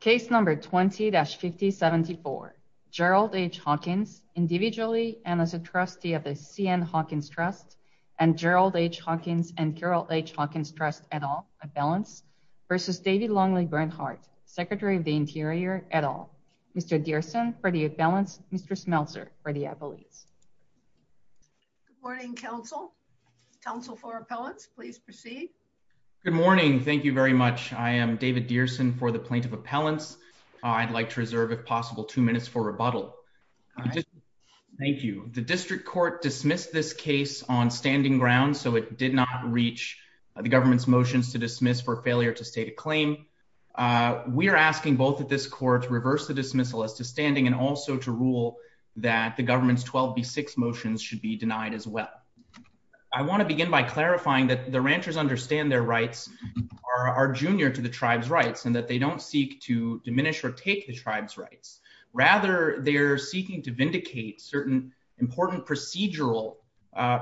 Case number 20-5074. Gerald H. Hawkins, individually and as a trustee of the C.N. Hawkins Trust and Gerald H. Hawkins and Carol H. Hawkins Trust et al, Appellants, versus David Longley Bernhardt, Secretary of the Interior et al. Mr. Dearson for the Appellants, Mr. Smeltzer for the Appellates. Good morning, Council. Council for Appellants, please proceed. Good morning. Thank you very much. I am David Dearson for the Plaintiff Appellants. I'd like to reserve, if possible, two minutes for rebuttal. Thank you. The District Court dismissed this case on standing ground, so it did not reach the government's motions to dismiss for failure to state a claim. We are asking both of this court to reverse the dismissal as to standing and also to rule that the government's 12B6 motions should be denied as well. I want to begin by clarifying that the ranchers understand their rights are junior to the tribe's rights and that they don't seek to diminish or take the tribe's rights. Rather, they're seeking to vindicate certain important procedural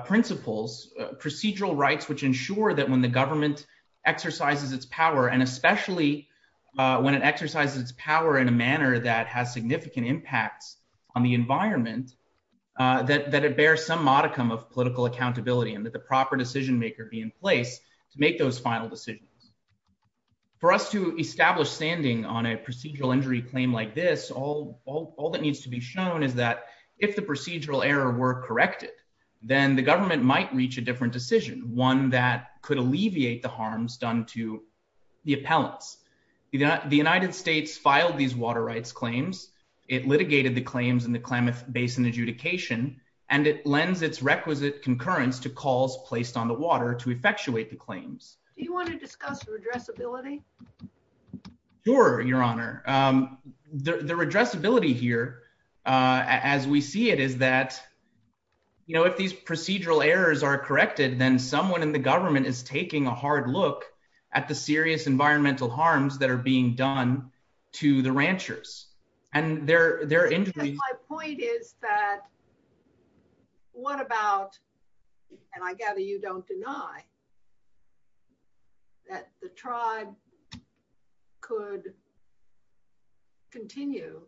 principles, procedural rights, which ensure that when the government exercises its power, and especially when it exercises its power in a manner that has significant impacts on the environment, that it bears some modicum of political accountability and that the proper decision maker be in place to make those final decisions. For us to establish standing on a procedural injury claim like this, all that needs to be shown is that if the procedural error were corrected, then the government might reach a different decision, one that could alleviate the harms done to the appellants. The United States filed these water rights claims. It litigated the claims in Klamath Basin adjudication, and it lends its requisite concurrence to calls placed on the water to effectuate the claims. Do you want to discuss redressability? Sure, Your Honor. The redressability here, as we see it, is that, you know, if these procedural errors are corrected, then someone in the government is taking a hard look at the serious environmental harms that are being done to the ranchers and their injuries. My point is that what about, and I gather you don't deny, that the tribe could continue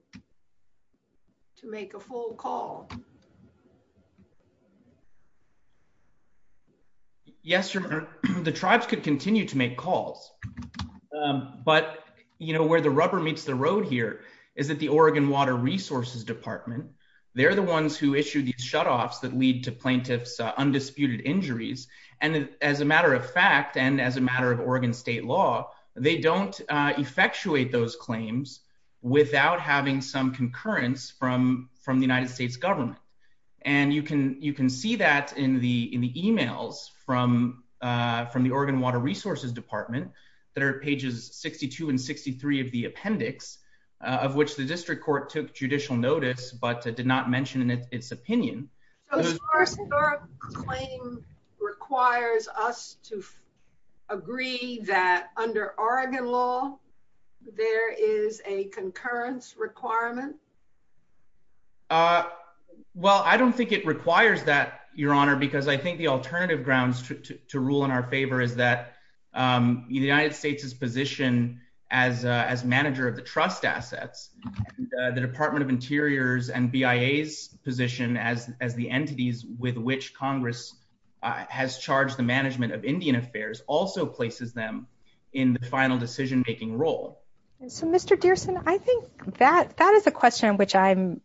to make a full call? Yes, Your Honor. The tribes could continue to make calls. But, you know, where the rubber meets the road here is that the Oregon Water Resources Department, they're the ones who issue these shutoffs that lead to plaintiffs' undisputed injuries. And as a matter of fact, and as a matter of Oregon state law, they don't effectuate those claims without having some concurrence from the United States government. And you can see that in the emails from the Oregon Water Resources Department that are pages 62 and 63 of the appendix, of which the district court took judicial notice but did not mention in its opinion. So Star-Cedar's claim requires us to agree that under Oregon law there is a concurrence requirement? Well, I don't think it requires that, Your Honor, because I think the alternative grounds to rule in our favor is that the United States' position as manager of the trust assets, the Department of Interior's and BIA's position as the entities with which Congress has charged the management of Indian affairs also places them in the final decision-making role. And so, Mr. Dearson, I think that that is a question in which I'm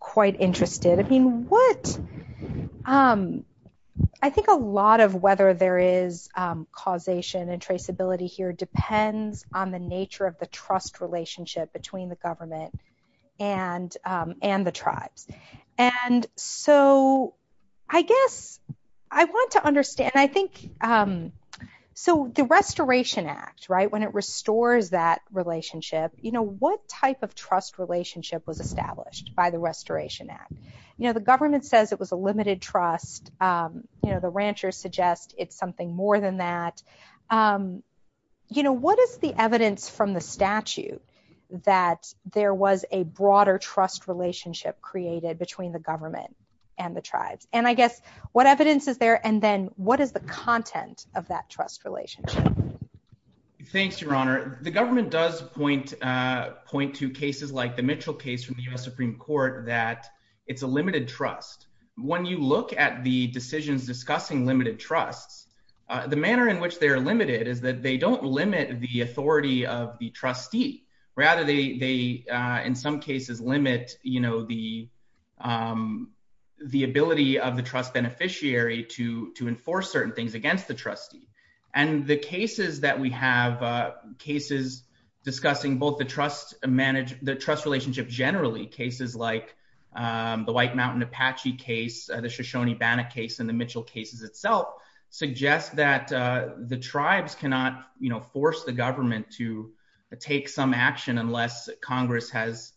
quite interested. I mean, I think a lot of whether there is causation and traceability here depends on the nature of the trust relationship between the government and the tribes. And I guess what evidence is there, and then what is the content of that trust relationship? Thanks, Your Honor. The government does point to cases like the Mitchell case from the U.S. Supreme Court that it's a limited trust. When you look at the decisions discussing limited trusts, the manner in which they are limited is that they don't limit the authority of the trustee. Rather, they in some cases limit the ability of the trust beneficiary to enforce certain things against the trustee. And the cases that we have, cases discussing both the trust relationship generally, cases like the White Mountain Apache case, the Shoshone-Bannock case, and the Mitchell cases itself, suggest that the tribes cannot force the government to take some action unless Congress has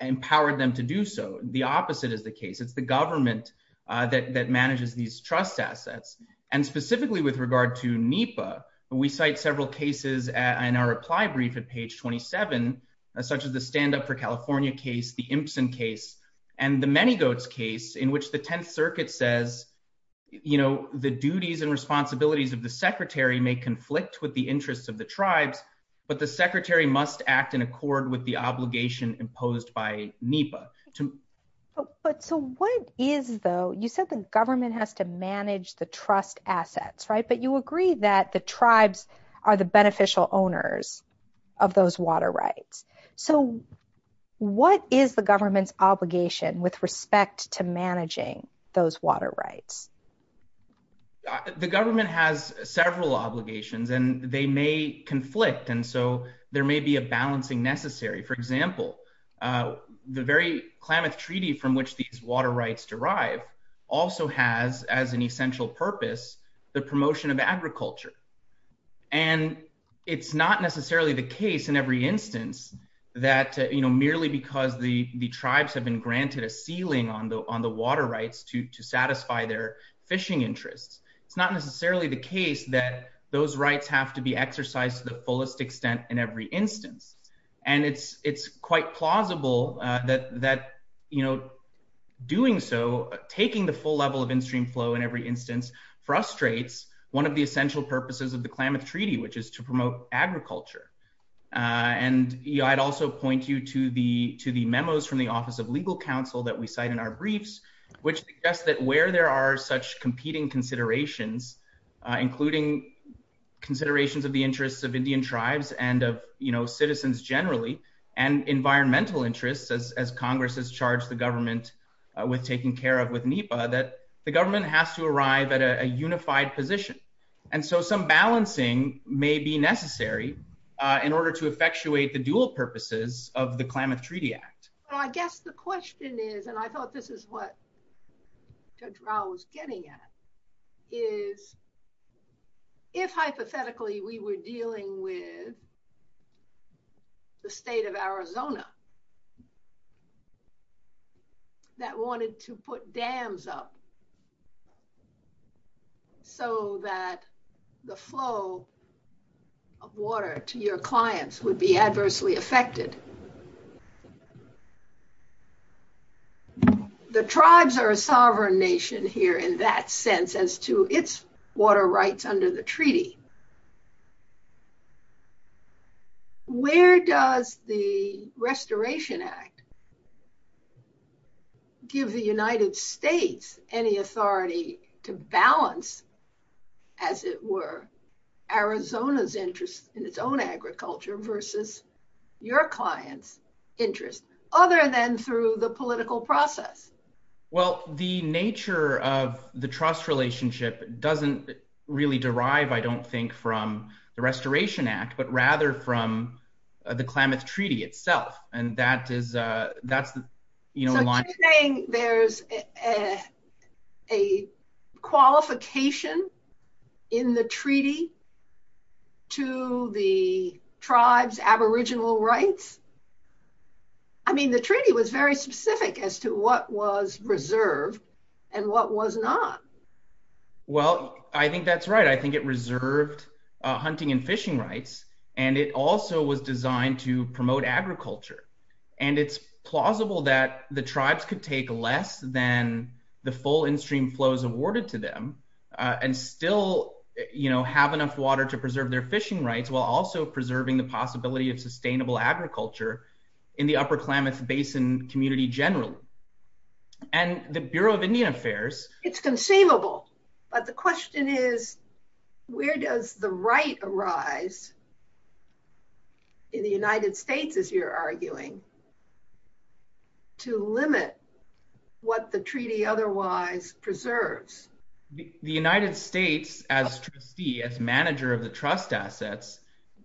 empowered them to do so. The opposite is the case. It's government that manages these trust assets. And specifically with regard to NEPA, we cite several cases in our reply brief at page 27, such as the Stand Up for California case, the Imsen case, and the Many Goats case, in which the Tenth Circuit says, you know, the duties and responsibilities of the secretary may conflict with the interests of the tribes, but the secretary must act in So what is, though, you said the government has to manage the trust assets, right? But you agree that the tribes are the beneficial owners of those water rights. So what is the government's obligation with respect to managing those water rights? The government has several obligations, and they may conflict, and so there may be a balancing necessary. For example, the very Klamath Treaty from which these water rights derive also has, as an essential purpose, the promotion of agriculture. And it's not necessarily the case in every instance that, you know, merely because the tribes have been granted a ceiling on the water rights to satisfy their fishing interests, it's not necessarily the case that those rights have to be exercised to the fullest extent in every instance. And it's quite plausible that, you know, doing so, taking the full level of in-stream flow in every instance frustrates one of the essential purposes of the Klamath Treaty, which is to promote agriculture. And I'd also point you to the memos from the Office of Legal Counsel that we cite in our briefs, which suggest that where there are such competing considerations, including considerations of the interests of Indian tribes and of, you know, citizens generally, and environmental interests, as Congress has charged the government with taking care of with NEPA, that the government has to arrive at a unified position. And so some balancing may be necessary in order to effectuate the dual purposes of the Klamath Treaty Act. Well, I guess the question is, and I thought this is what Judge Rao was getting at, is if hypothetically we were dealing with the state of Arizona that wanted to put dams up so that the flow of water to your clients would be adversely affected, and the tribes are a sovereign nation here in that sense as to its water rights under the treaty, where does the Restoration Act give the United States any authority to balance, as it were, Arizona's interest in its own through the political process? Well, the nature of the trust relationship doesn't really derive, I don't think, from the Restoration Act, but rather from the Klamath Treaty itself. And that is, that's, you know, there's a qualification in the treaty to the tribe's aboriginal rights. I mean, the treaty was very specific as to what was reserved and what was not. Well, I think that's right. I think it reserved hunting and fishing rights, and it also was designed to promote agriculture. And it's plausible that the tribes could take less than the full in-stream flows awarded to them and still, you know, have enough water to preserve their fishing rights, while also preserving the possibility of sustainable agriculture in the upper Klamath Basin community generally. And the Bureau of Indian Affairs... It's conceivable, but the question is, where does the right arise in the United States, as you're arguing, to limit what the treaty otherwise preserves? The United States, as trustee, as manager of the trust assets,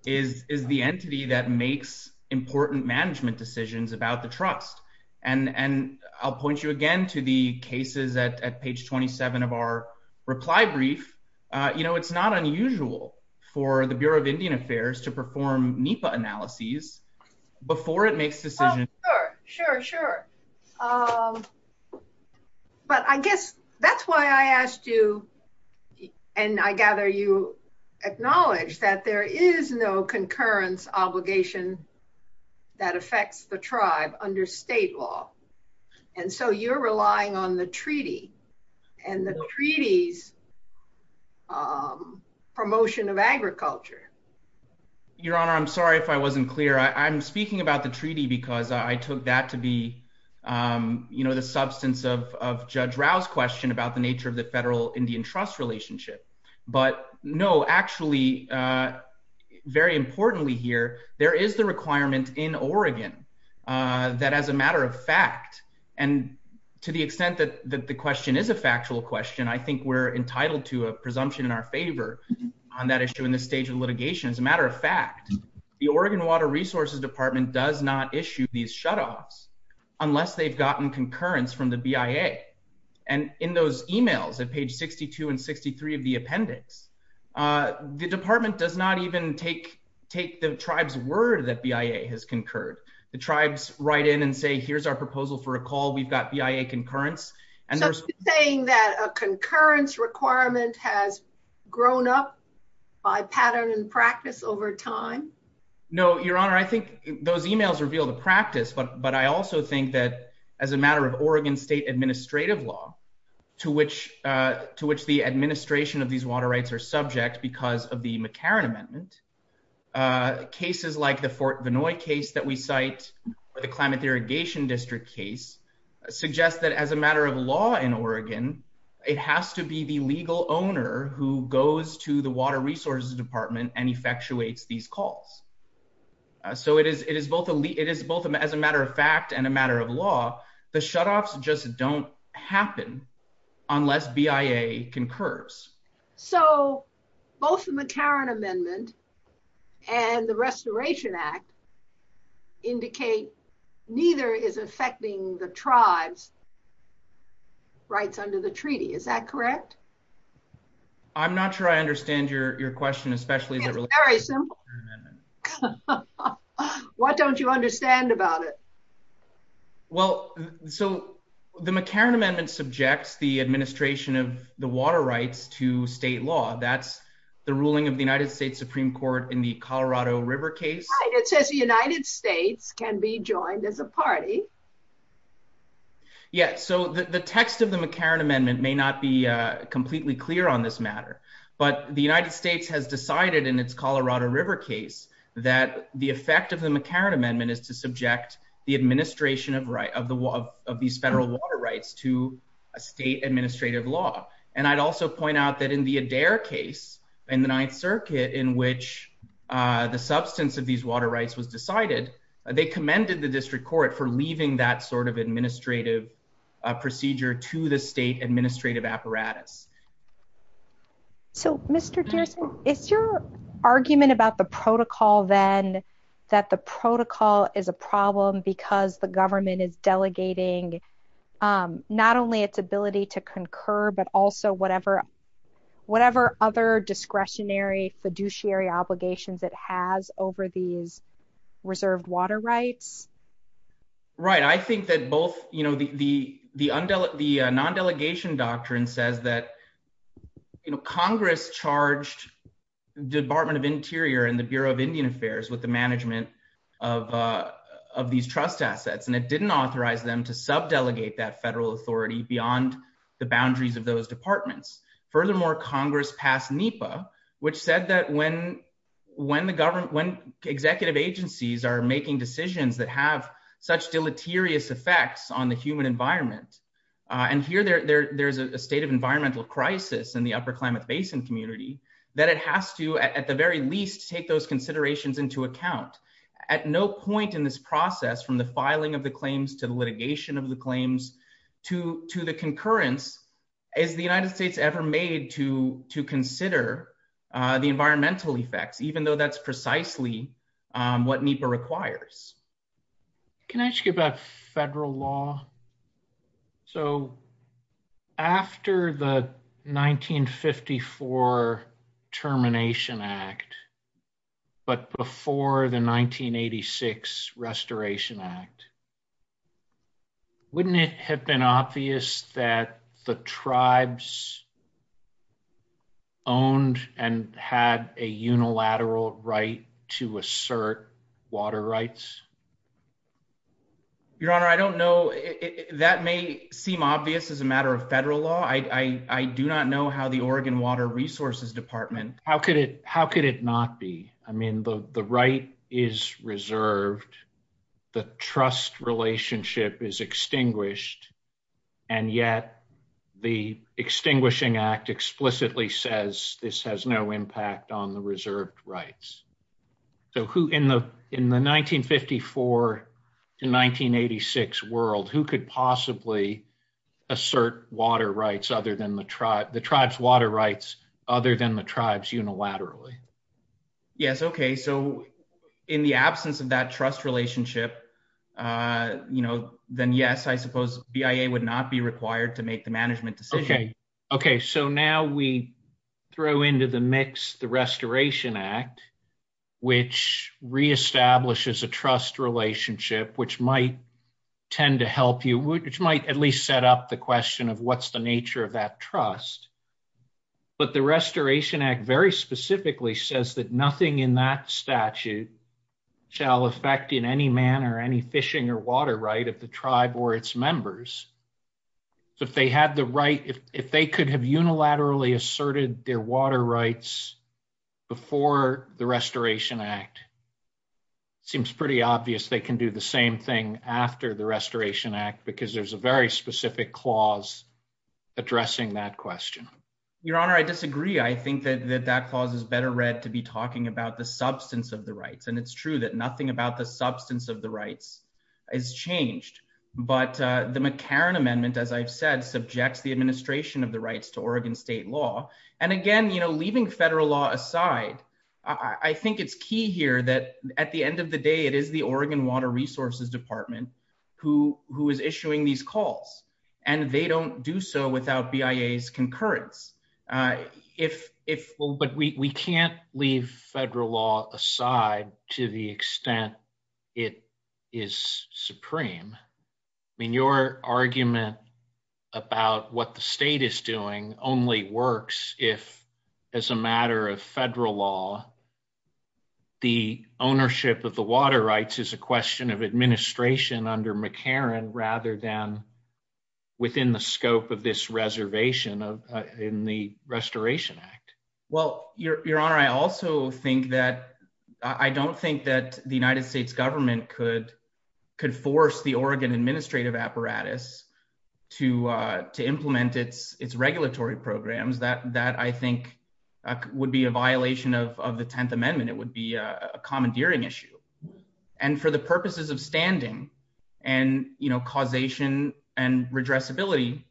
is the entity that makes important management decisions about the trust. And I'll point you again to the cases at page 27 of our reply brief. You know, it's not unusual for the Bureau of Indian Affairs to perform NEPA analyses before it makes decisions. Oh, sure, sure, sure. But I guess that's why I asked you, and I gather you acknowledge that there is no concurrence obligation that affects the tribe under state law. And so you're relying on the treaty and the treaty's promotion of agriculture. Your Honor, I'm sorry if I wasn't clear. I'm speaking about the treaty because I took that to be the substance of Judge Rao's question about the nature of the federal Indian trust relationship. But no, actually, very importantly here, there is the requirement in Oregon that as a matter of fact, and to the extent that the question is a factual question, I think we're entitled to a presumption in our favor on that issue in this stage of litigation. As a matter of fact, the Oregon Water Resources Department does not issue these shutoffs unless they've gotten concurrence from the BIA. And in those emails at page 62 and 63 of the appendix, the department does not even take the tribe's word that BIA has concurred. The tribes write in and say, here's our proposal for a call. We've got BIA concurrence. So you're saying that a concurrence requirement has grown up by pattern and practice over time? No, Your Honor, I think those emails reveal the practice. But I also think that as a matter of Oregon state administrative law, to which the administration of these water rights are subject because of the McCarran Amendment, cases like the Fort Vanoi case that we cite, or the Climate Law in Oregon, it has to be the legal owner who goes to the Water Resources Department and effectuates these calls. So it is both as a matter of fact and a matter of law, the shutoffs just don't happen unless BIA concurs. So both the McCarran Amendment and the Restoration Act indicate neither is affecting the tribes' rights under the treaty. Is that correct? I'm not sure I understand your question, especially in relation to the McCarran Amendment. It's very simple. What don't you understand about it? Well, so the McCarran Amendment subjects the administration of the water rights to state law. That's the ruling of the United States Supreme Court in the Colorado River case. It says the United States can be joined as a party. Yeah, so the text of the McCarran Amendment may not be completely clear on this matter. But the United States has decided in its Colorado River case that the effect of the McCarran Amendment is to subject the administration of these federal water rights to state administrative law. And I'd also point out that in the Adair case in the Ninth Circuit in which the substance of these water rights was decided, they commended the district court for leaving that sort of administrative procedure to the state administrative apparatus. So, Mr. Dearson, is your argument about the protocol then that the protocol is a problem because the government is delegating not only its ability to concur, but also whatever other discretionary fiduciary obligations it has over these reserved water rights? Right. I think that both the non-delegation doctrine says that Congress charged the assets and it didn't authorize them to sub delegate that federal authority beyond the boundaries of those departments. Furthermore, Congress passed NEPA, which said that when executive agencies are making decisions that have such deleterious effects on the human environment and here there's a state of environmental crisis in the upper Klamath Basin community, that it has to, at the very least, take those considerations into account. At no point in this process from the filing of the claims to the litigation of the claims to the concurrence is the United States ever made to consider the environmental effects, even though that's precisely what NEPA requires. Can I ask you about federal law? So after the 1954 Termination Act, but before the 1986 Restoration Act, wouldn't it have been obvious that the tribes owned and had a unilateral right to assert water rights? Your Honor, I don't know. That may seem obvious as a matter of federal law. I do not know how the Oregon Water Resources Department... How could it not be? I mean, the right is reserved, the trust relationship is extinguished, and yet the Extinguishing Act explicitly says this has no impact on the reserved rights. So in the 1954 to 1986 world, who could possibly assert the tribe's water rights other than the tribes unilaterally? Yes, okay. So in the absence of that trust relationship, then yes, I suppose BIA would not be required to make the management decision. Okay. So now we throw into the mix the Restoration Act, which reestablishes a trust relationship, which might tend to help you, which might at least set up the question of what's the nature of that trust. But the Restoration Act very specifically says that nothing in that statute shall affect in any manner any fishing or water right of the tribe or its members. So if they had the right... If they could have unilaterally asserted their water rights before the Restoration Act, it seems pretty obvious they can do the same thing after the Restoration Act because there's a very specific clause addressing that question. Your Honor, I disagree. I think that that clause is better read to be talking about the substance of the rights. And it's true that nothing about the substance of the rights is changed, but the McCarran Amendment, as I've said, subjects the administration of the rights to Oregon state law. And again, leaving federal law aside, I think it's key here that at the end of the day, it is the Oregon Water Resources Department who is issuing these calls, and they don't do so without BIA's concurrence. But we can't leave federal law aside to the extent it is supreme. I mean, your argument about what the state is doing only works if, as a matter of federal law, the ownership of the water rights is a question of administration under McCarran rather than within the scope of this reservation in the Restoration Act. Well, Your Honor, I don't think that the United States government could force the Oregon administrative apparatus to implement its regulatory programs. That, I think, would be a violation of the 10th Amendment. It would be a commandeering issue. And for the purposes of standing and causation and redressability,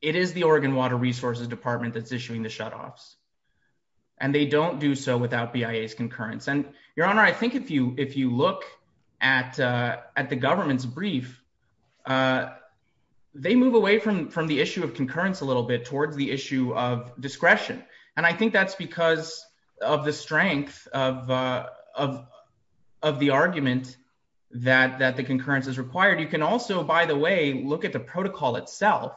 it is the Oregon Water Resources Department that's issuing the shutoffs, and they don't do so without BIA's concurrence. And, Your Honor, I think if you look at the government's brief, they move away from the issue of concurrence a little bit towards the issue of discretion. And I think that's because of the strength of the argument that the concurrence is required. You can also, by the way, look at the protocol itself,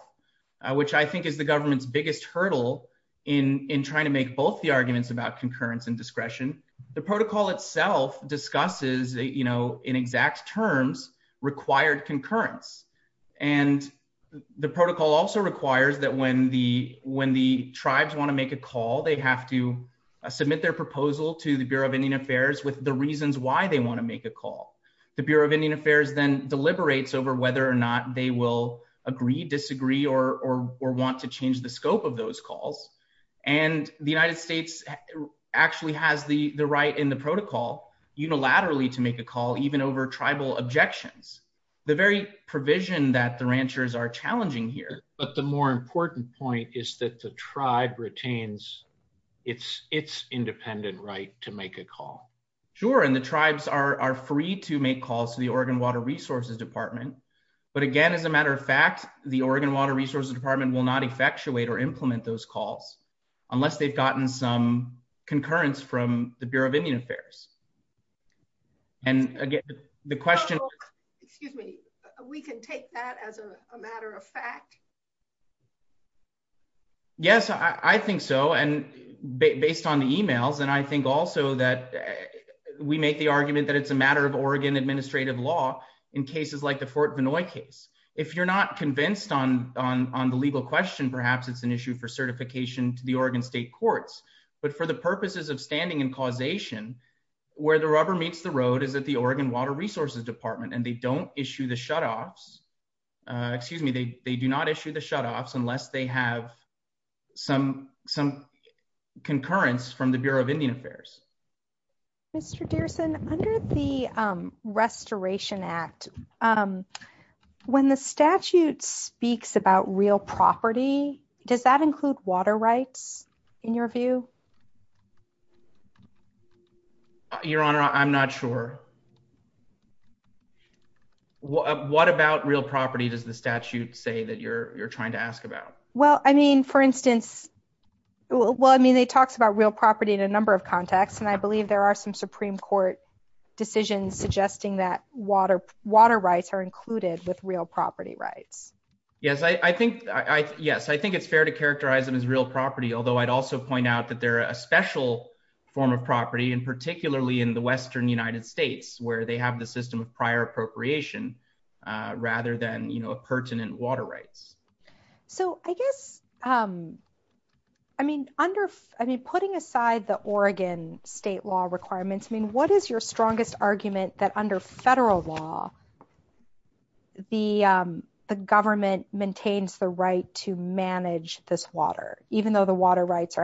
which I think is the government's biggest hurdle in trying to make both the arguments about concurrence and discretion. The protocol itself discusses, in exact terms, required concurrence. And the protocol also requires that when the tribes want to make a call, they have to submit their proposal to the Bureau of Indian Affairs with the reasons why they want to make a call. The Bureau of Indian Affairs deliberates over whether or not they will agree, disagree, or want to change the scope of those calls. And the United States actually has the right in the protocol unilaterally to make a call, even over tribal objections, the very provision that the ranchers are challenging here. But the more important point is that the tribe retains its independent right to make a call. Sure, and the tribes are free to make calls to the Oregon Water Resources Department. But again, as a matter of fact, the Oregon Water Resources Department will not effectuate or implement those calls unless they've gotten some concurrence from the Bureau of Indian Affairs. And again, the question... Excuse me, we can take that as a matter of fact? Yes, I think so. And based on the emails, and I think also that we make the argument that it's a matter of Oregon administrative law in cases like the Fort Benoit case. If you're not convinced on the legal question, perhaps it's an issue for certification to the Oregon State Courts. But for the purposes of standing and causation, where the rubber meets the road is at the Oregon Water Resources Department, and they don't issue the shutoffs. Excuse me, they do not issue the shutoffs unless they have some concurrence from the Bureau of Indian Affairs. Mr. Dearson, under the Restoration Act, when the statute speaks about real property, does that include water rights, in your view? Your Honor, I'm not sure. What about real property does the statute say that you're trying to ask about? Well, I mean, for instance, well, I mean, they talked about real property in a number of contexts, and I believe there are some Supreme Court decisions suggesting that water rights are included with real property rights. Yes, I think it's fair to characterize them as real property, although I'd also point out that they're a special form of property, and particularly in the western United States. Where they have the system of prior appropriation, rather than, you know, pertinent water rights. So I guess, I mean, under, I mean, putting aside the Oregon state law requirements, I mean, what is your strongest argument that under federal law, the government maintains the right to manage this water, even though the water rights are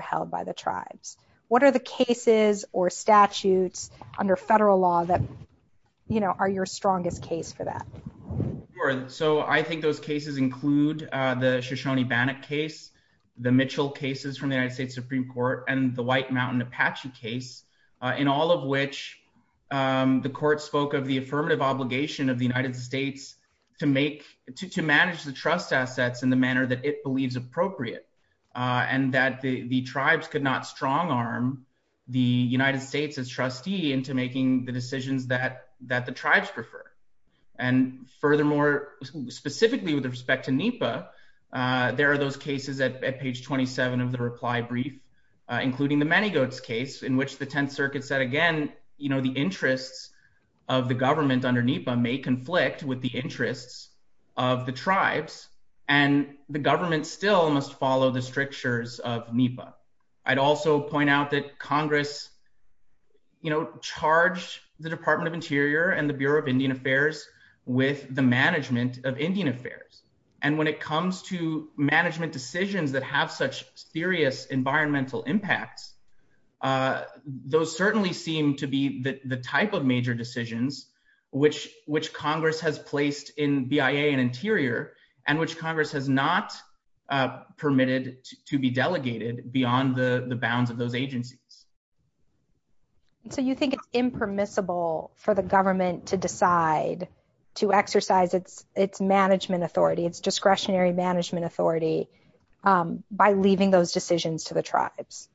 you know, are your strongest case for that? So I think those cases include the Shoshone-Bannock case, the Mitchell cases from the United States Supreme Court, and the White Mountain Apache case, in all of which the court spoke of the affirmative obligation of the United States to make, to manage the trust assets in the manner that it believes appropriate, and that the tribes could not strong arm the United States as trustee into making the decisions that the tribes prefer. And furthermore, specifically with respect to NEPA, there are those cases at page 27 of the reply brief, including the Many Goats case, in which the Tenth Circuit said, again, you know, the interests of the government under NEPA may conflict with the interests of the tribes, and the government still must follow the strictures of NEPA. I'd also point out that Congress, you know, charged the Department of Interior and the Bureau of Indian Affairs with the management of Indian Affairs. And when it comes to management decisions that have such serious environmental impacts, those certainly seem to be the type of major decisions which Congress has placed in BIA and Interior, and which Congress has not permitted to be delegated beyond the the bounds of those agencies. So you think it's impermissible for the government to decide to exercise its management authority, its discretionary management authority, by leaving those decisions to the tribes?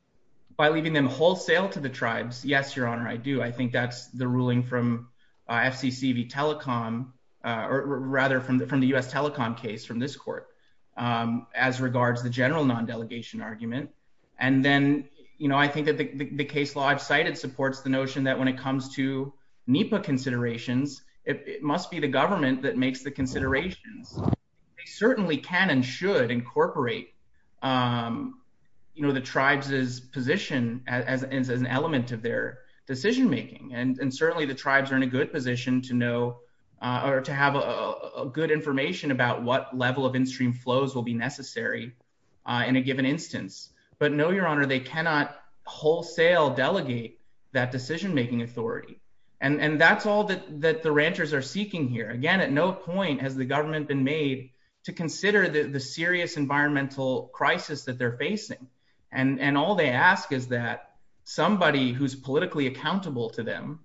By leaving them wholesale to the tribes? Yes, Your Honor, I do. I think that's the ruling from FCCV Telecom, or rather from the U.S. Telecom case from this court, as regards the general non-delegation argument. And then, you know, I think that the case law I've cited supports the notion that when it comes to NEPA considerations, it must be the government that makes the considerations. They certainly can and should incorporate, you know, the tribes' position as an element of their decision making. And certainly the tribes are in a good position to know or to have a good information about what level of in-stream flows will be necessary in a given instance. But no, Your Honor, they cannot wholesale delegate that decision-making authority. And that's all that the ranchers are seeking here. Again, at no point has the government been made to consider the serious environmental crisis that they're facing. And all they ask is that somebody who's politically accountable to them,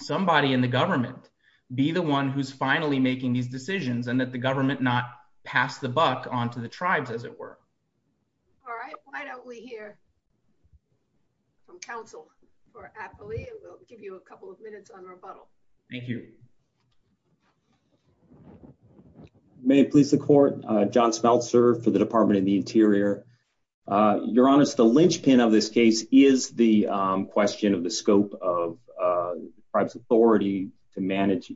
somebody in the government, be the one who's finally making these decisions, and that the government not pass the buck onto the tribes, as it were. All right, why don't we hear from counsel for Apley, and we'll give you a couple of minutes on rebuttal. Thank you. May it please the Court, John Smeltzer for the Department of the Interior. Your Honor, the linchpin of this case is the question of the scope of the tribe's authority to manage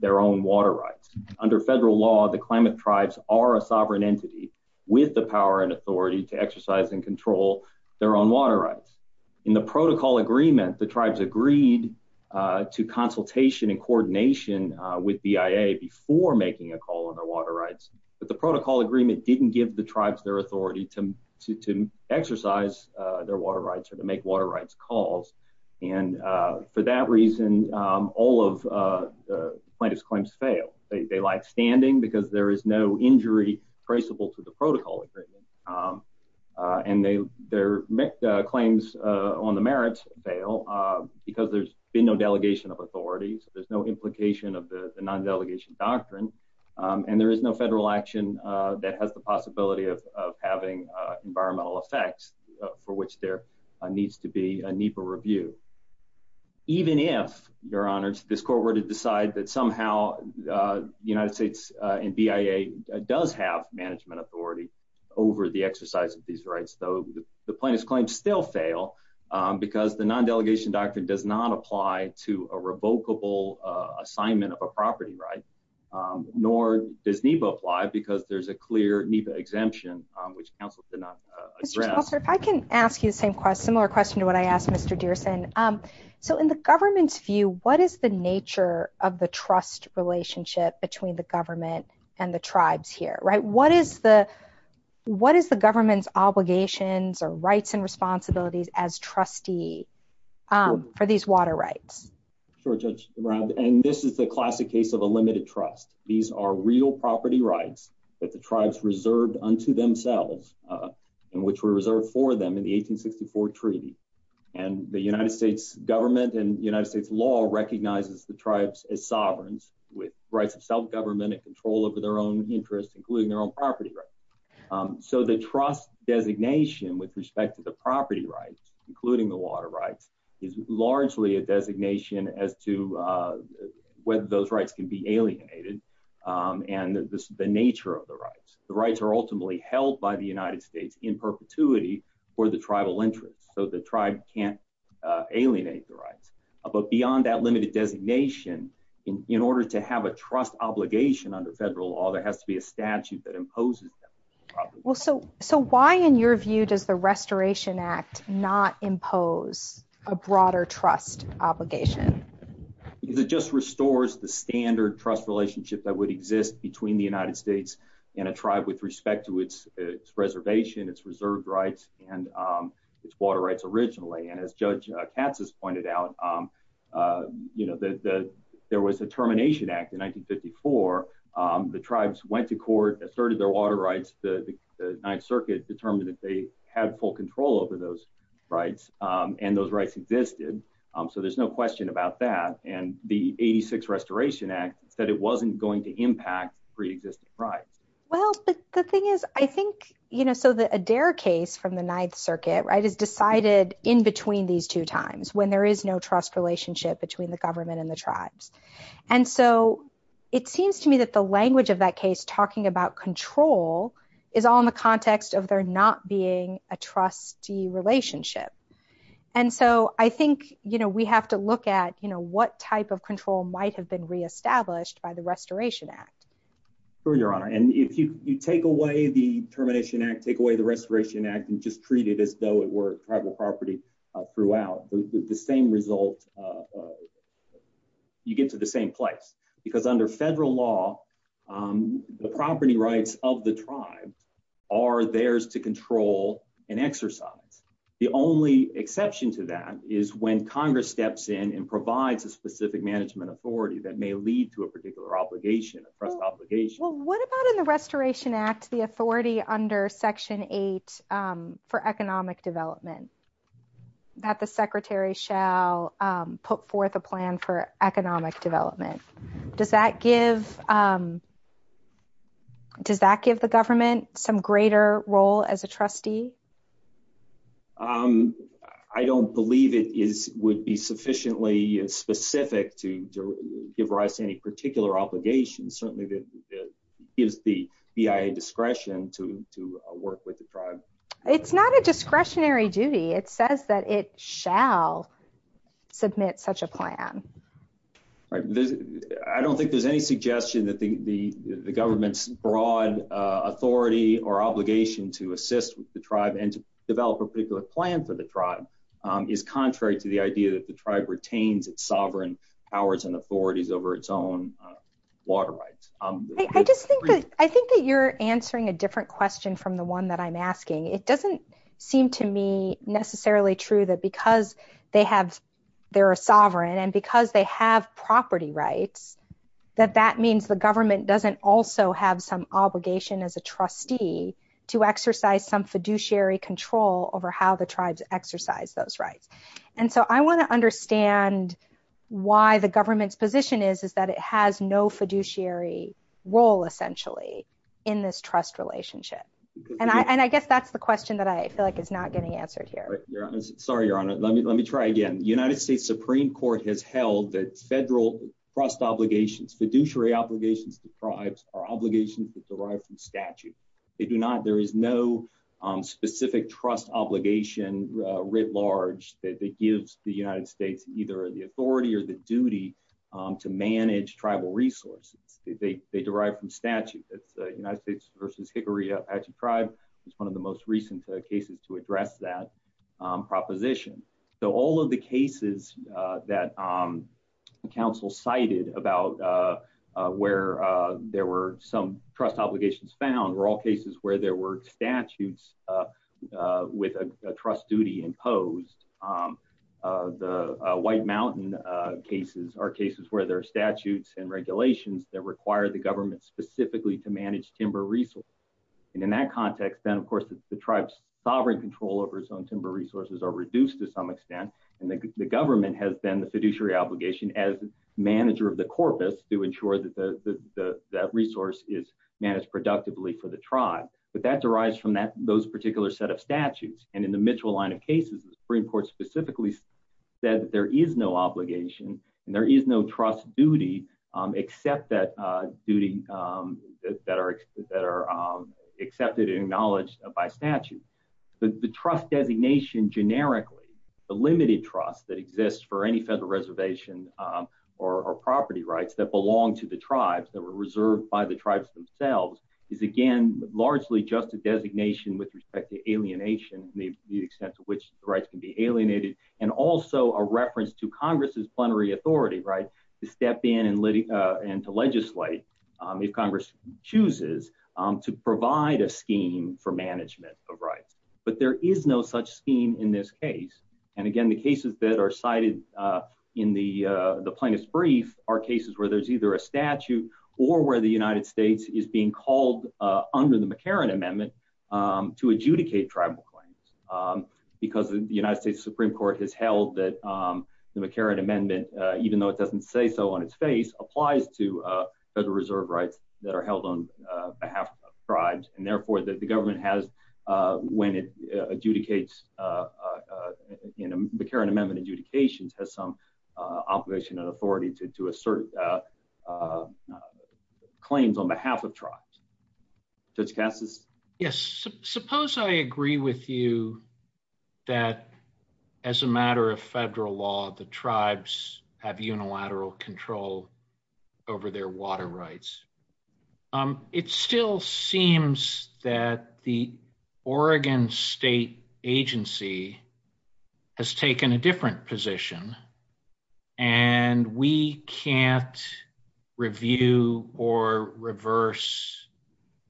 their own water rights. Under federal law, the Klamath Tribes are a sovereign entity with the power and authority to exercise and control their own water rights. In the Protocol Agreement, the tribes agreed to consultation and coordination with BIA before making a call on their water rights. But the Protocol Agreement didn't give the tribes their authority to exercise their water rights or to make water rights calls. And for that reason, all of the plaintiff's claims fail. They lie standing because there is no injury traceable to the Protocol Agreement. And their claims on the merits fail because there's been no delegation of authority, so there's no implication of the non-delegation doctrine. And there is no federal action that has the possibility of having environmental effects for which there needs to be a NEPA review. Even if, Your Honor, this Court were to decide that somehow the United States and BIA does have management authority over the exercise of these rights, though the plaintiff's claims still fail because the non-delegation doctrine does not apply to a revocable assignment of a property right, nor does NEPA apply because there's a clear NEPA exemption which counsel did not address. If I can ask you the same similar question to what I asked Mr. Dearson. So in the government's view, what is the nature of the trust relationship between the government and the tribes here, what is the government's obligations or rights and responsibilities as trustee for these water rights? Sure, Judge, and this is the classic case of a limited trust. These are real property rights that the tribes reserved unto themselves, and which were reserved for them in the 1864 treaty. And the United States government and United States law recognizes the tribes as sovereigns with rights of self-government control over their own interests, including their own property rights. So the trust designation with respect to the property rights, including the water rights, is largely a designation as to whether those rights can be alienated and the nature of the rights. The rights are ultimately held by the United States in perpetuity for the tribal interests, so the tribe can't alienate the rights. But beyond that limited designation, in order to have a trust obligation under federal law, there has to be a statute that imposes them. Well, so why in your view does the Restoration Act not impose a broader trust obligation? Because it just restores the standard trust relationship that would exist between the United States and a tribe with respect to its reservation, its reserved rights, and its water rights originally. And as Judge Katz has pointed out, there was a termination act in 1954. The tribes went to court, asserted their water rights, the Ninth Circuit determined that they had full control over those rights, and those rights existed. So there's no question about that. And the 86 Restoration Act said it wasn't going to from the Ninth Circuit, right, is decided in between these two times when there is no trust relationship between the government and the tribes. And so it seems to me that the language of that case talking about control is all in the context of there not being a trustee relationship. And so I think, you know, we have to look at, you know, what type of control might have been re-established by the Restoration Act. For your honor, and if you take away the termination act, take away the Restoration Act, and just treat it as though it were tribal property throughout, the same result, you get to the same place. Because under federal law, the property rights of the tribe are theirs to control and exercise. The only exception to that is when Congress steps in and provides a specific management authority that may lead to a particular obligation, a trust obligation. Well, what about in the Restoration Act, the authority under Section 8 for economic development, that the secretary shall put forth a plan for economic development? Does that give the government some greater role as a trustee? I don't believe it would be sufficiently specific to give rise to any particular obligation, certainly that gives the BIA discretion to work with the tribe. It's not a discretionary duty, it says that it shall submit such a plan. Right, I don't think there's any suggestion that the government's broad authority or obligation to assist with the tribe and to develop a particular plan for the idea that the tribe retains its sovereign powers and authorities over its own water rights. I think that you're answering a different question from the one that I'm asking. It doesn't seem to me necessarily true that because they have, they're a sovereign, and because they have property rights, that that means the government doesn't also have some obligation as a trustee to exercise some fiduciary control over how the tribes exercise those rights. And so I want to understand why the government's position is, is that it has no fiduciary role essentially in this trust relationship. And I guess that's the question that I feel like is not getting answered here. Sorry, Your Honor, let me try again. The United States Supreme Court has held that federal trust obligations, fiduciary obligations to tribes are obligations that there is no specific trust obligation writ large that gives the United States either the authority or the duty to manage tribal resources. They derive from statute. It's the United States versus Hickory Apache tribe. It's one of the most recent cases to address that proposition. So all of the cases that counsel cited about where there were some trust obligations found were all cases where there were statutes with a trust duty imposed. The White Mountain cases are cases where there are statutes and regulations that require the government specifically to manage timber resources. And in that context, then of course the tribe's sovereign control over its own timber resources are reduced to some extent. And the government has then the fiduciary obligation as manager of the corpus to ensure that that resource is the tribe. But that derives from those particular set of statutes. And in the Mitchell line of cases, the Supreme Court specifically said that there is no obligation and there is no trust duty except that duty that are accepted and acknowledged by statute. The trust designation generically, the limited trust that exists for any federal reservation or property rights that largely just a designation with respect to alienation, the extent to which rights can be alienated, and also a reference to Congress's plenary authority to step in and to legislate if Congress chooses to provide a scheme for management of rights. But there is no such scheme in this case. And again, the cases that are cited in the plaintiff's brief are cases where there's a statute or where the United States is being called under the McCarran Amendment to adjudicate tribal claims. Because the United States Supreme Court has held that the McCarran Amendment, even though it doesn't say so on its face, applies to federal reserve rights that are held on behalf of tribes. And therefore, the government has, when it adjudicates, the McCarran Amendment adjudications has some obligation and authority to assert claims on behalf of tribes. Judge Cassis? Yes. Suppose I agree with you that as a matter of federal law, the tribes have unilateral control over their water rights. It still seems that the federal agency has taken a different position. And we can't review or reverse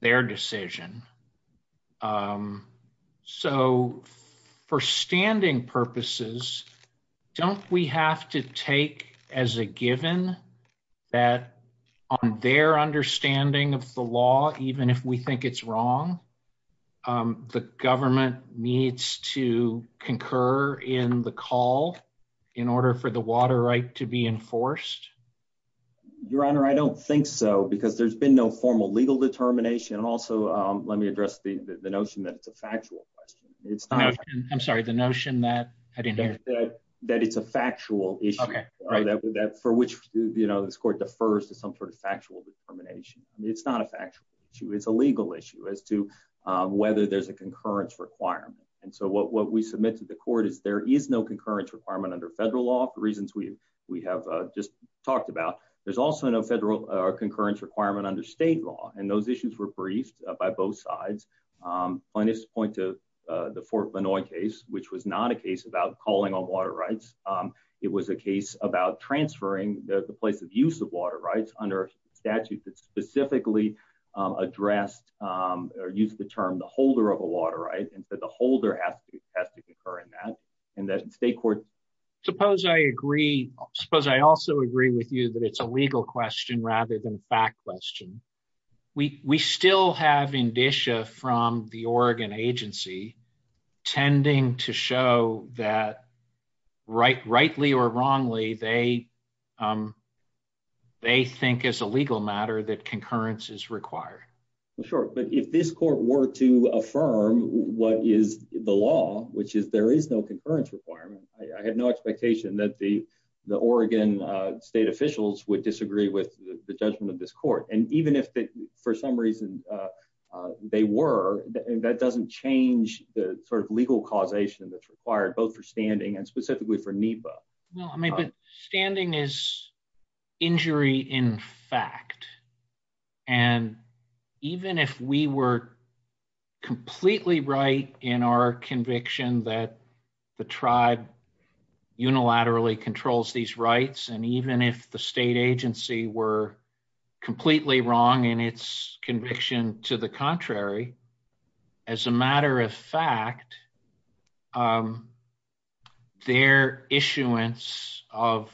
their decision. So for standing purposes, don't we have to take as a given that on their understanding of the law, even if we think it's wrong, the government needs to concur in the call in order for the water right to be enforced? Your Honor, I don't think so, because there's been no formal legal determination. And also, let me address the notion that it's a factual question. I'm sorry, the notion that I didn't hear. That it's a factual issue, for which this court defers to some sort of factual determination. It's not a factual issue. It's a legal issue as to whether there's a concurrence requirement. And so what we submit to the court is there is no concurrence requirement under federal law, the reasons we have just talked about. There's also no federal concurrence requirement under state law. And those issues were briefed by both sides. On this point to the Fort Lanois case, which was not a case about calling on water rights. It was a case about transferring the place of use of water rights under a statute that specifically addressed, or used the term, the holder of a water right. And so the holder has to concur in that. And that state court... Suppose I agree. Suppose I also agree with you that it's a legal question rather than a fact question. We still have indicia from the Oregon agency, tending to show that rightly or wrongly, they think as a legal matter that concurrence is required. Sure. But if this court were to affirm what is the law, which is there is no concurrence requirement. I had no expectation that the Oregon state officials would disagree with the judgment of this court. And even if for some reason they were, that doesn't change the sort of legal causation that's required both for standing and specifically for NEPA. No, I mean, but standing is injury in fact. And even if we were completely right in our conviction that the tribe unilaterally controls these rights, and even if the state agency were completely wrong in its conviction to the contrary, as a matter of fact, their issuance of...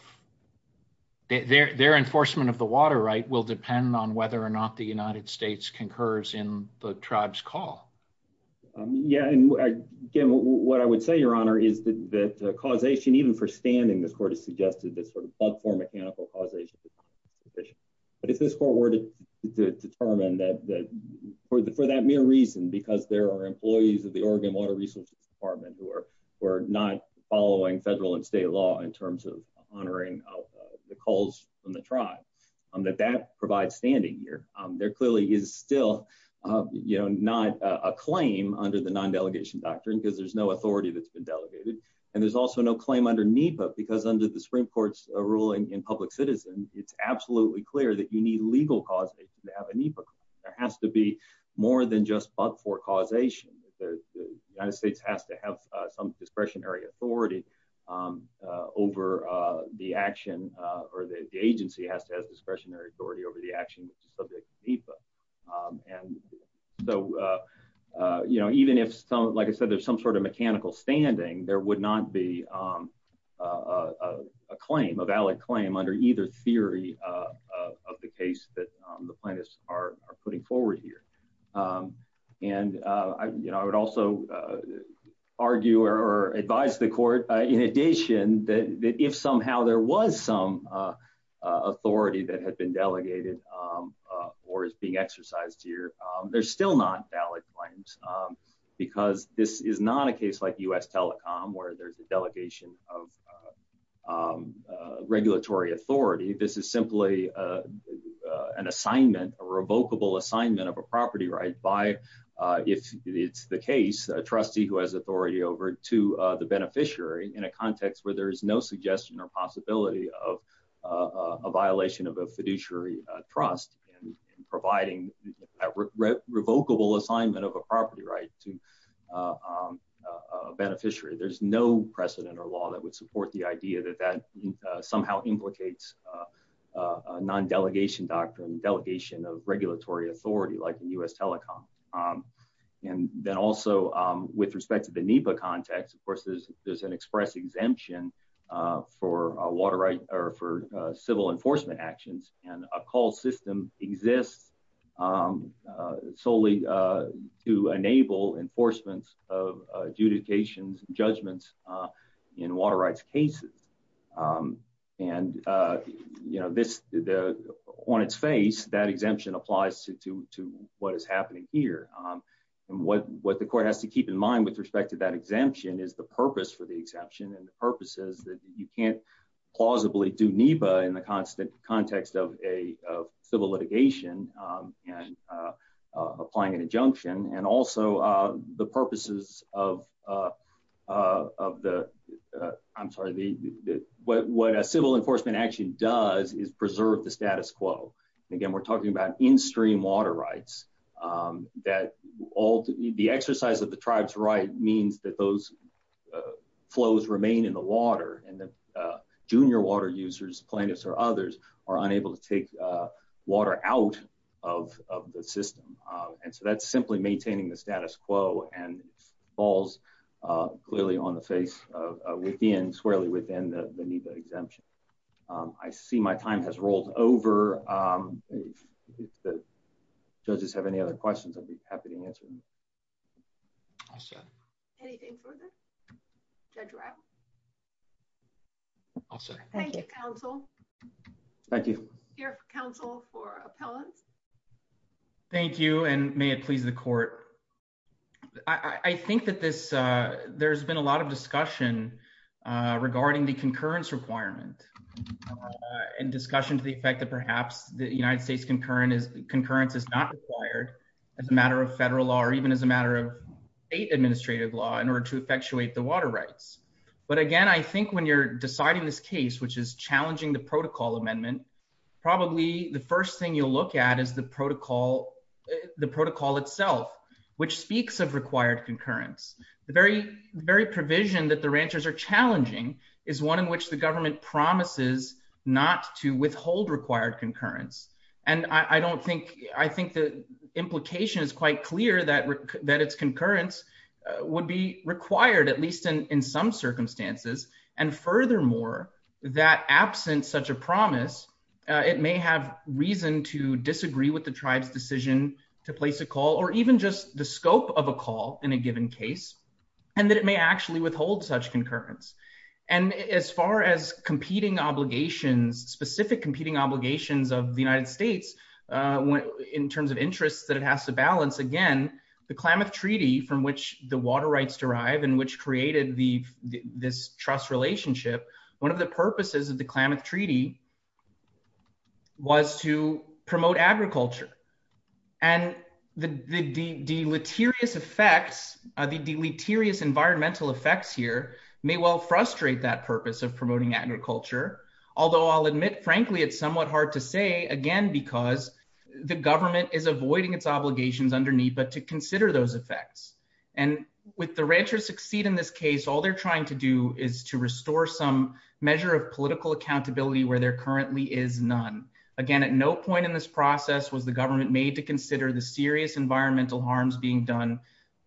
Their enforcement of the water right will depend on whether or not the I would say, Your Honor, is that causation even for standing, this court has suggested that sort of platform mechanical causation is sufficient. But if this court were to determine that for that mere reason, because there are employees of the Oregon Water Resources Department who are not following federal and state law in terms of honoring the calls from the tribe, that that provides standing here. There clearly is still not a claim under the non-delegation doctrine, because there's no authority that's been delegated. And there's also no claim under NEPA, because under the Supreme Court's ruling in public citizen, it's absolutely clear that you need legal causation to have a NEPA. There has to be more than just but for causation. The United States has to have some discretionary authority over the action, or the agency has to have some sort of mechanical standing, there would not be a claim, a valid claim under either theory of the case that the plaintiffs are putting forward here. And I would also argue or advise the court, in addition, that if somehow there was some authority that had exercised here, there's still not valid claims. Because this is not a case like US Telecom, where there's a delegation of regulatory authority, this is simply an assignment, a revocable assignment of a property right by, if it's the case, a trustee who has authority over to the beneficiary in a context where there is no suggestion or possibility of a violation of a revocable assignment of a property right to a beneficiary. There's no precedent or law that would support the idea that that somehow implicates a non-delegation doctrine, delegation of regulatory authority like the US Telecom. And then also, with respect to the NEPA context, of course, there's an express exemption for civil enforcement actions, and a call system exists solely to enable enforcements of adjudications and judgments in water rights cases. And on its face, that exemption applies to what is happening here. And what the court has to keep in mind with respect to that exemption is the purpose for the exemption, and the purpose is that you can't plausibly do NEPA in the context of a civil litigation and applying an injunction, and also the purposes of the, I'm sorry, what a civil enforcement action does is preserve the status quo. Again, we're talking about in-stream water rights, that the exercise of the tribe's means that those flows remain in the water, and the junior water users, plaintiffs or others, are unable to take water out of the system. And so that's simply maintaining the status quo, and falls clearly on the face within, squarely within the NEPA exemption. I see my time has rolled over. If the judges have any other questions, I'd be happy to answer them. I'll second. Anything further? Judge Rao? I'll second. Thank you, counsel. Thank you. Your counsel for appellants? Thank you, and may it please the court. I think that this, there's been a lot of discussion regarding the concurrence requirement, and discussion to the effect that perhaps the United States concurrence is not required as a matter of federal law, or even as a matter of state administrative law, in order to effectuate the water rights. But again, I think when you're deciding this case, which is challenging the protocol amendment, probably the first thing you'll look at is the protocol, the protocol itself, which speaks of required concurrence. The very provision that the ranchers are challenging is one in which the government promises not to withhold required concurrence. And I don't think, I think the implication is quite clear that its concurrence would be required, at least in some circumstances. And furthermore, that absent such a promise, it may have reason to disagree with the tribe's decision to place a call, or even just the scope of a call in a given case, and that it may actually withhold such concurrence. And as far as competing obligations, specific competing obligations of the United States, in terms of interests that it has to balance, again, the Klamath Treaty, from which the water rights derive, and which created this trust relationship, one of the purposes of the Klamath Treaty was to promote agriculture. And the deleterious effects, the deleterious environmental effects here may well frustrate that purpose of promoting agriculture. Although I'll admit, frankly, it's somewhat hard to say, again, because the government is avoiding its obligations underneath, but to consider those effects. And with the ranchers succeed in this case, all they're trying to do is to restore some measure of political accountability where there currently is none. Again, at no point in this process was the government made to consider the serious environmental harms being done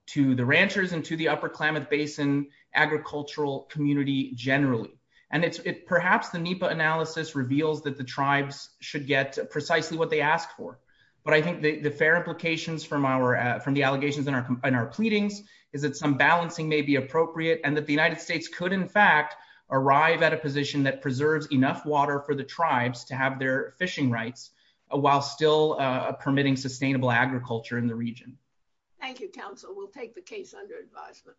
to the ranchers and to the upper Klamath Basin agricultural community generally. And perhaps the NEPA analysis reveals that the tribes should get precisely what they ask for. But I think the fair implications from the allegations in our pleadings is that some balancing may be appropriate, and that the United States could, in fact, arrive at a position that preserves enough water for the tribes to have their fishing rights, while still permitting sustainable agriculture in the region. Thank you, counsel. We'll take the case under advisement.